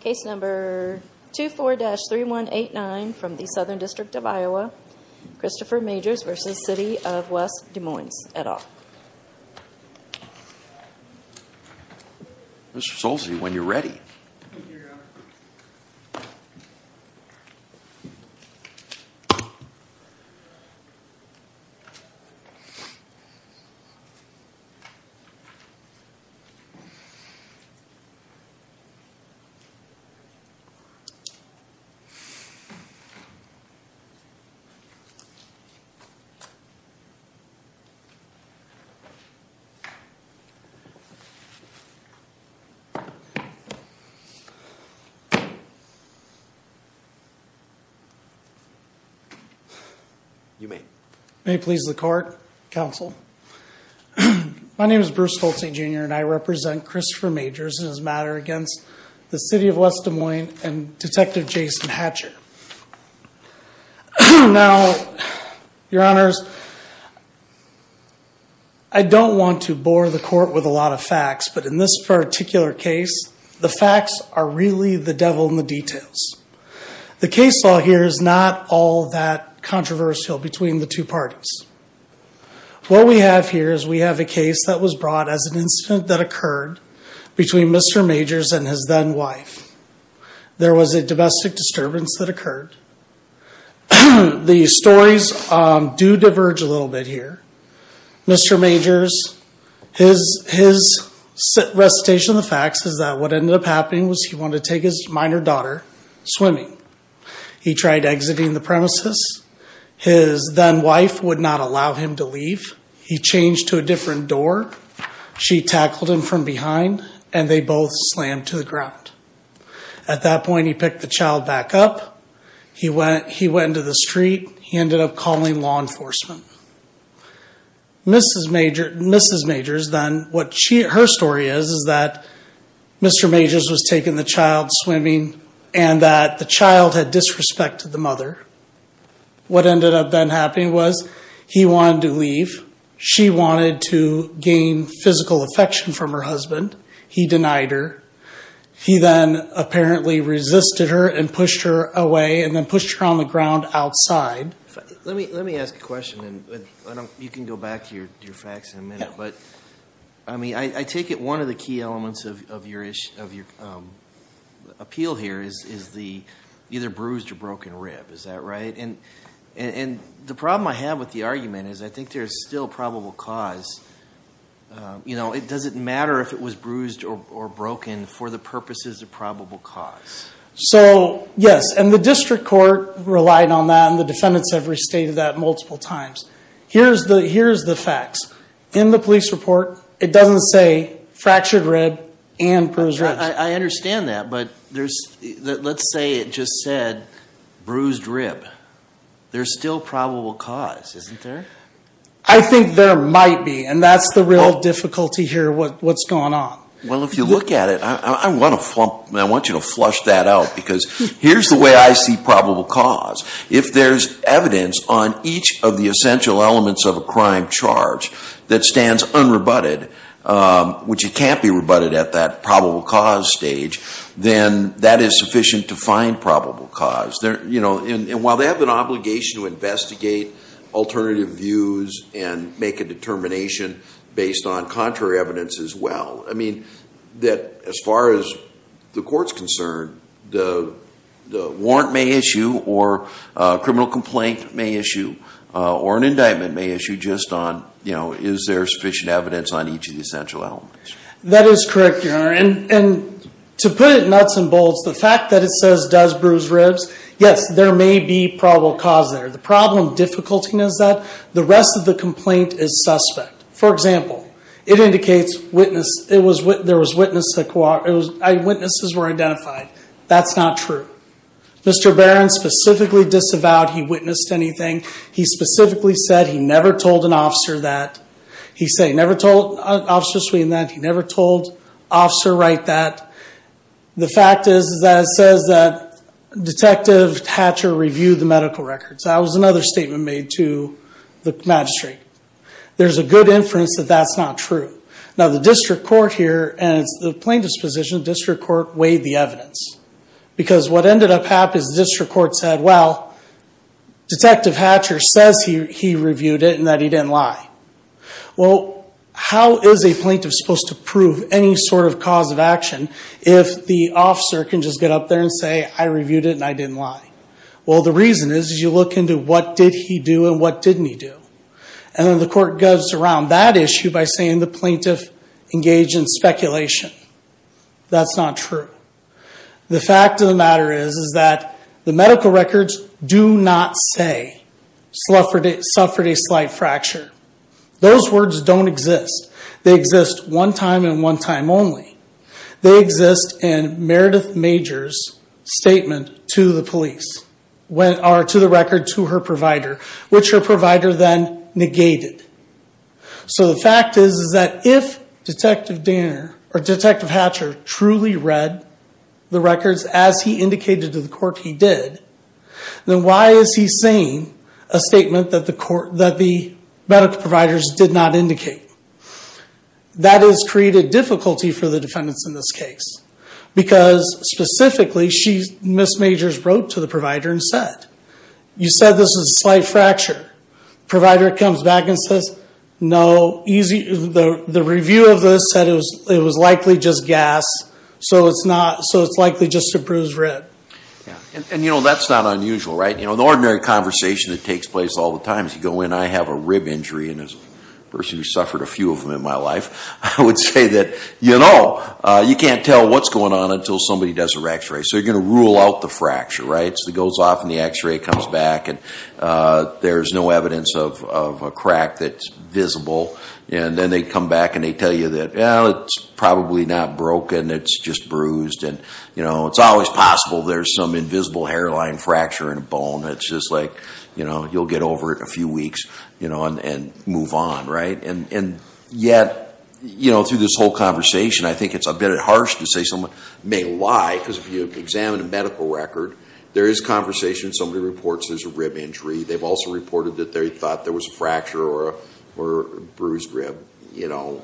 Case number 24-3189 from the Southern District of Iowa Christopher Majors v. City of West Des Moines et al Mr. Solzi when you're ready You may. May it please the court, counsel. My name is Bruce Solzi Jr. and I represent Christopher Majors in his matter against the City of West Des Moines and Detective Jason Hatcher Now your honors I Don't want to bore the court with a lot of facts But in this particular case the facts are really the devil in the details The case law here is not all that controversial between the two parties What we have here is we have a case that was brought as an incident that occurred between Mr. Majors and his then-wife There was a domestic disturbance that occurred The stories do diverge a little bit here Mr. Majors his Recitation of the facts is that what ended up happening was he wanted to take his minor daughter swimming He tried exiting the premises His then-wife would not allow him to leave he changed to a different door She tackled him from behind and they both slammed to the ground At that point he picked the child back up. He went he went into the street. He ended up calling law enforcement Mrs. Majors then what her story is is that Mr. Majors was taking the child swimming and that the child had disrespected the mother What ended up then happening was he wanted to leave she wanted to gain physical affection from her husband He denied her He then apparently resisted her and pushed her away and then pushed her on the ground outside Let me let me ask a question and you can go back to your facts in a minute But I mean, I take it one of the key elements of your issue of your Appeal here is is the either bruised or broken rib, is that right? And and the problem I have with the argument is I think there's still probable cause You know, it doesn't matter if it was bruised or broken for the purposes of probable cause So yes, and the district court relied on that and the defendants have restated that multiple times Here's the here's the facts in the police report. It doesn't say fractured rib and persons Understand that but there's let's say it just said bruised rib There's still probable cause isn't there? I think there might be and that's the real difficulty here What what's going on? Well, if you look at it, I want to flop I want you to flush that out because here's the way I see probable cause if there's Evidence on each of the essential elements of a crime charge that stands unrebutted Which it can't be rebutted at that probable cause stage then that is sufficient to find probable cause there You know and while they have an obligation to investigate Alternative views and make a determination based on contrary evidence as well I mean that as far as the courts concerned the warrant may issue or Criminal complaint may issue or an indictment may issue just on you know Is there sufficient evidence on each of the essential elements? That is correct? You're in and to put it nuts and bolts the fact that it says does bruise ribs Yes, there may be probable cause there the problem difficulty knows that the rest of the complaint is suspect For example, it indicates witness. It was what there was witness to court. It was eyewitnesses were identified. That's not true Mr. Barron specifically disavowed he witnessed anything He specifically said he never told an officer that he say never told officer Sweden that he never told officer right that the fact is that it says that Detective Hatcher reviewed the medical records. That was another statement made to the magistrate There's a good inference that that's not true Now the district court here and it's the plaintiff's position district court weighed the evidence Because what ended up happens district court said well Detective Hatcher says he reviewed it and that he didn't lie well how is a plaintiff supposed to prove any sort of cause of action if The officer can just get up there and say I reviewed it and I didn't lie Well, the reason is you look into what did he do and what didn't he do? And then the court goes around that issue by saying the plaintiff engaged in speculation That's not true The fact of the matter is is that the medical records do not say Slufford it suffered a slight fracture Those words don't exist. They exist one time in one time only They exist in Meredith majors Statement to the police when are to the record to her provider which her provider then negated so the fact is is that if Detective Dan or detective Hatcher truly read the records as he indicated to the court he did Then why is he saying a statement that the court that the medical providers did not indicate? that has created difficulty for the defendants in this case because Specifically she's miss majors wrote to the provider and said you said this is a slight fracture Provider comes back and says no easy the the review of this said it was it was likely just gas So it's not so it's likely just to bruise red And you know, that's not unusual, right? You know the ordinary conversation that takes place all the times you go in I have a rib injury and as a person who suffered a few of them in my life I would say that you know, you can't tell what's going on until somebody does a rectory so you're gonna rule out the fracture rights that goes off and the x-ray comes back and There's no evidence of a crack that's visible and then they come back and they tell you that yeah, it's probably not broken It's just bruised and you know, it's always possible. There's some invisible hairline fracture in a bone It's just like, you know, you'll get over it a few weeks, you know and move on right and and yet You know through this whole conversation I think it's a bit harsh to say someone may lie because if you examine a medical record There is conversation. Somebody reports. There's a rib injury. They've also reported that they thought there was a fracture or bruised rib, you know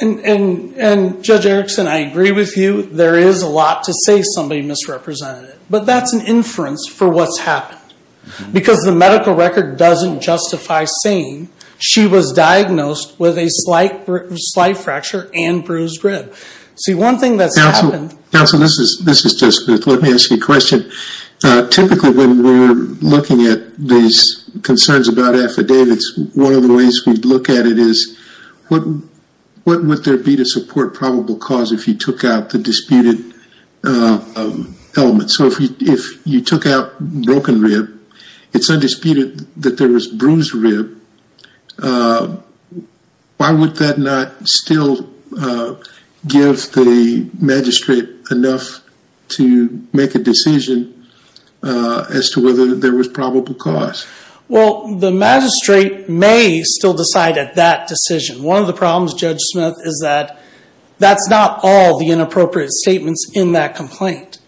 And and and judge Erickson I agree with you. There is a lot to say somebody misrepresented it But that's an inference for what's happened because the medical record doesn't justify saying She was diagnosed with a slight slight fracture and bruised rib. See one thing that's happened Counsel this is this is just let me ask you a question Typically when we're looking at these concerns about affidavits, one of the ways we look at it is what? What would there be to support probable cause if you took out the disputed? Element so if you took out broken rib, it's undisputed that there was bruised rib Why would that not still Give the magistrate enough to make a decision As to whether there was probable cause well the magistrate may still decide at that decision One of the problems judge Smith is that that's not all the inappropriate statements in that complaint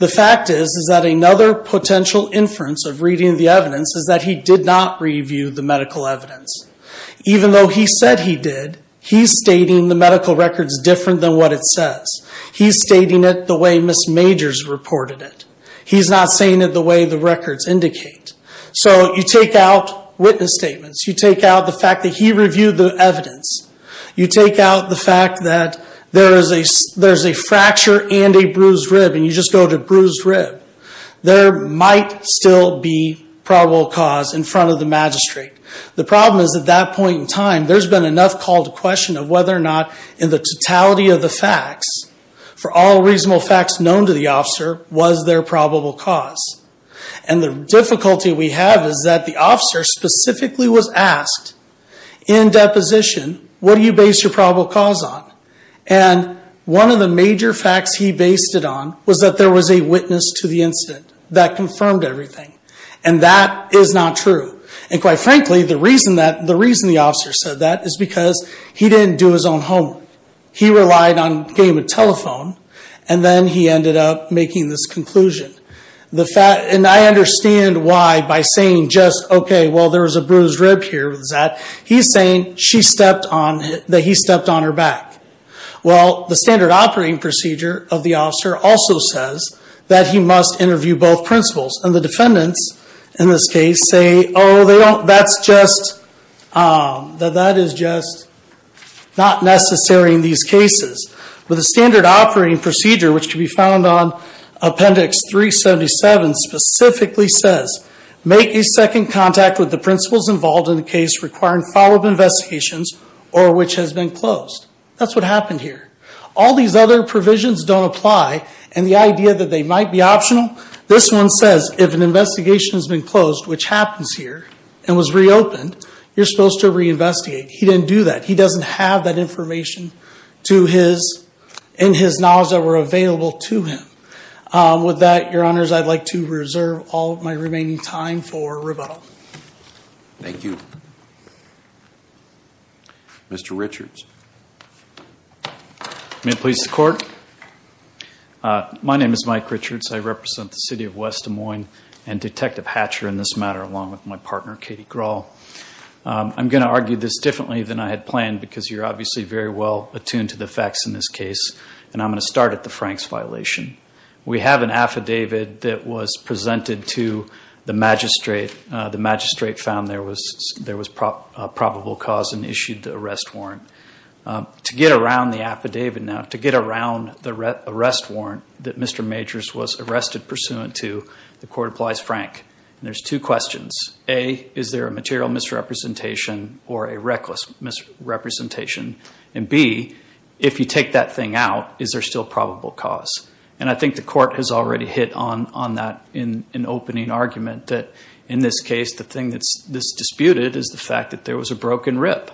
The fact is is that another potential inference of reading the evidence is that he did not review the medical evidence Even though he said he did he's stating the medical records different than what it says He's stating it the way miss majors reported it He's not saying it the way the records indicate so you take out witness statements You take out the fact that he reviewed the evidence You take out the fact that there is a there's a fracture and a bruised rib and you just go to bruised rib There might still be Probable cause in front of the magistrate. The problem is at that point in time There's been enough called a question of whether or not in the totality of the facts for all reasonable facts known to the officer was there probable cause and The difficulty we have is that the officer specifically was asked in deposition, what do you base your probable cause on and One of the major facts he based it on was that there was a witness to the incident that confirmed everything and that Is not true. And quite frankly the reason that the reason the officer said that is because he didn't do his own home He relied on game a telephone and then he ended up making this conclusion The fat and I understand why by saying just okay. Well, there was a bruised rib here Was that he's saying she stepped on that he stepped on her back well, the standard operating procedure of the officer also says that he must interview both principles and the defendants in this case say Oh, they don't that's just That that is just Not necessary in these cases with a standard operating procedure, which can be found on appendix 377 specifically says make a second contact with the principles involved in the case requiring follow-up Investigations or which has been closed That's what happened here all these other provisions don't apply and the idea that they might be optional This one says if an investigation has been closed, which happens here and was reopened. You're supposed to reinvestigate He didn't do that. He doesn't have that information To his in his knowledge that were available to him With that your honors. I'd like to reserve all my remaining time for rebuttal Thank you Mr. Richards May it please the court My name is Mike Richards, I represent the city of West Des Moines and detective Hatcher in this matter along with my partner Katie Grahl I'm gonna argue this differently than I had planned because you're obviously very well attuned to the facts in this case And I'm going to start at the Frank's violation We have an affidavit that was presented to the magistrate the magistrate found There was probable cause and issued the arrest warrant To get around the affidavit now to get around the arrest warrant that mr Majors was arrested pursuant to the court applies Frank and there's two questions a is there a material misrepresentation or a reckless Misrepresentation and B if you take that thing out Is there still probable cause and I think the court has already hit on on that in an opening argument that in this case The thing that's this disputed is the fact that there was a broken rib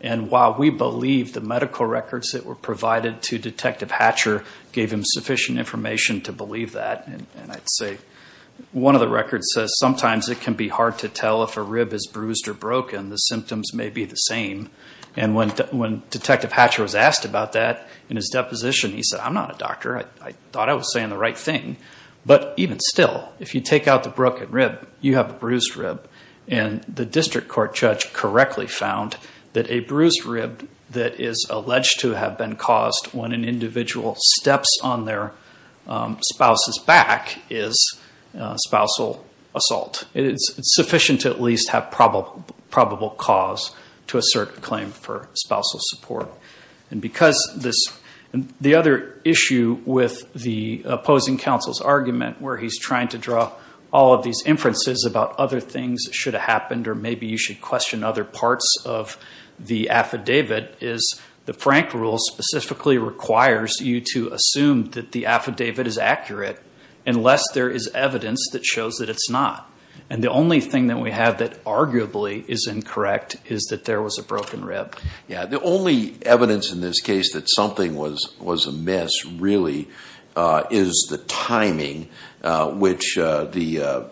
And while we believe the medical records that were provided to detective Hatcher gave him sufficient information to believe that and I'd say One of the records says sometimes it can be hard to tell if a rib is bruised or broken The symptoms may be the same and when when detective Hatcher was asked about that in his deposition. He said I'm not a doctor I thought I was saying the right thing But even still if you take out the broken rib you have a bruised rib and The district court judge correctly found that a bruised rib that is alleged to have been caused when an individual steps on their spouse's back is Spousal assault it's sufficient to at least have probable probable cause to assert a claim for Opposing counsel's argument where he's trying to draw all of these inferences about other things that should have happened or maybe you should question other parts of the Affidavit is the Frank rule specifically requires you to assume that the affidavit is accurate Unless there is evidence that shows that it's not and the only thing that we have that arguably is incorrect Is that there was a broken rib? Yeah, the only evidence in this case that something was was a mess really is the timing which the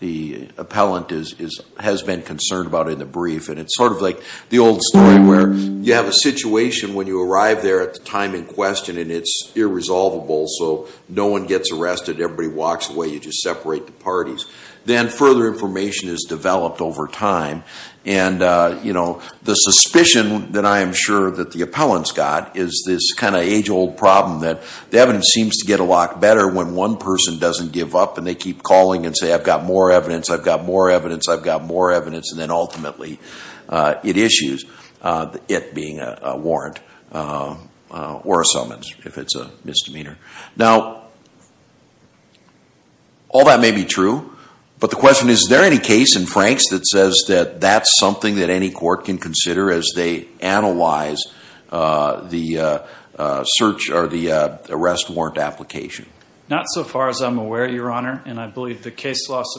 The appellant is is has been concerned about in the brief And it's sort of like the old story where you have a situation when you arrive there at the time in question And it's irresolvable so no one gets arrested everybody walks away you just separate the parties then further information is developed over time and You know the suspicion that I am sure that the appellant's got is this kind of age-old problem that Devin seems to get a lot better when one person doesn't give up and they keep calling and say I've got more evidence I've got more evidence. I've got more evidence and then ultimately It issues it being a warrant or a summons if it's a misdemeanor now All That may be true But the question is there any case in Frank's that says that that's something that any court can consider as they analyze the Search or the arrest warrant application not so far as I'm aware your honor and I believe the case loss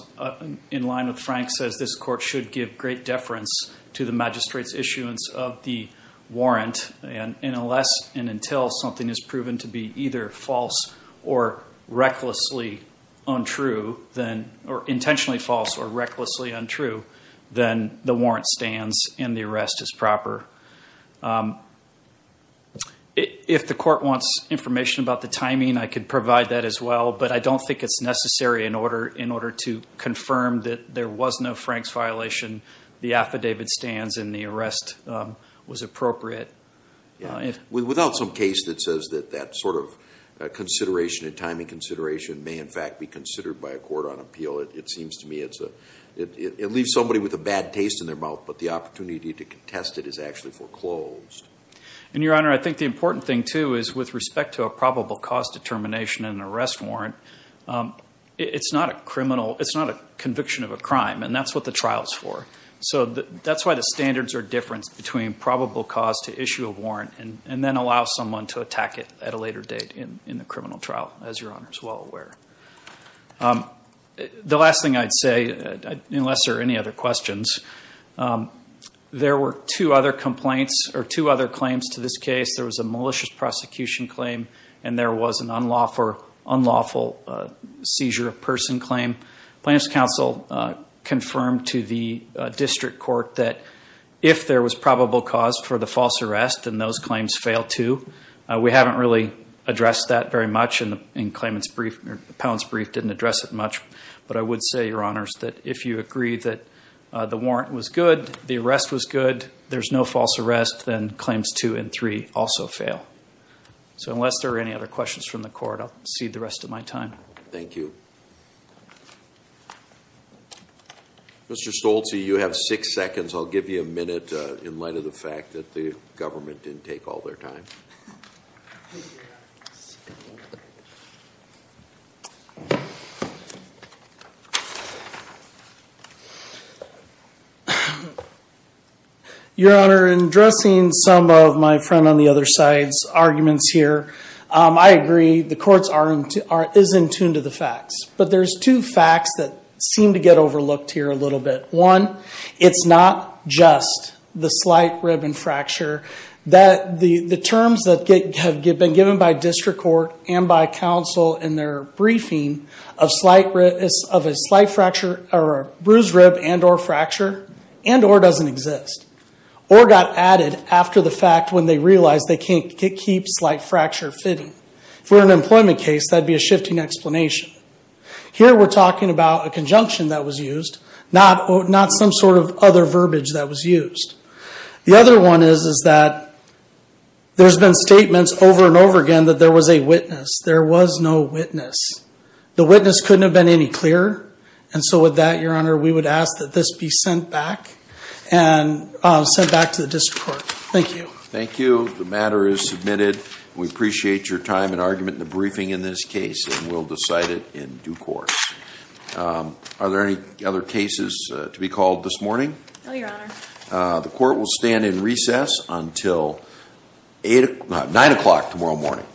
in line with Frank says this court should give great deference to the magistrates issuance of the Warrant and unless and until something is proven to be either false or recklessly Untrue then or intentionally false or recklessly untrue then the warrant stands and the arrest is proper If the court wants information about the timing I could provide that as well But I don't think it's necessary in order in order to confirm that there was no Frank's violation The affidavit stands and the arrest was appropriate without some case that says that that sort of Consideration and timing consideration may in fact be considered by a court on appeal it seems to me It's a it leaves somebody with a bad taste in their mouth, but the opportunity to contest it is actually foreclosed And your honor I think the important thing too is with respect to a probable cause determination and arrest warrant It's not a criminal it's not a conviction of a crime and that's what the trials for so that that's why the standards are different between Probable cause to issue a warrant and and then allow someone to attack it at a later date in in the criminal trial as your honors well aware The last thing I'd say unless there are any other questions There were two other complaints or two other claims to this case There was a malicious prosecution claim and there was an unlawful unlawful seizure of person claim plaintiffs counsel confirmed to the district court that if there was probable cause for the false arrest and those claims fail to We haven't really addressed that very much and in claimants brief or the pounds brief didn't address it much But I would say your honors that if you agree that the warrant was good. The arrest was good There's no false arrest then claims two and three also fail So unless there are any other questions from the court. I'll see the rest of my time. Thank you Mr.. Stolte you have six seconds. I'll give you a minute in light of the fact that the government didn't take all their time Your honor in dressing some of my friend on the other side's arguments here I agree the courts aren't aren't is in tune to the facts But there's two facts that seem to get overlooked here a little bit one It's not just the slight rib and fracture that the the terms that get have been given by district court and by counsel in their Briefing of slight risk of a slight fracture or a bruised rib and or fracture and or doesn't exist Or got added after the fact when they realized they can't get keeps like fracture fitting for an employment case. That'd be a shifting explanation Here we're talking about a conjunction that was used not not some sort of other verbiage that was used the other one is is that There's been statements over and over again that there was a witness there was no witness the witness couldn't have been any clearer and so with that your honor we would ask that this be sent back and Sent back to the district court. Thank you. Thank you. The matter is submitted We appreciate your time and argument in the briefing in this case, and we'll decide it in due course Are there any other cases to be called this morning? the court will stand in recess until Eight nine o'clock tomorrow morning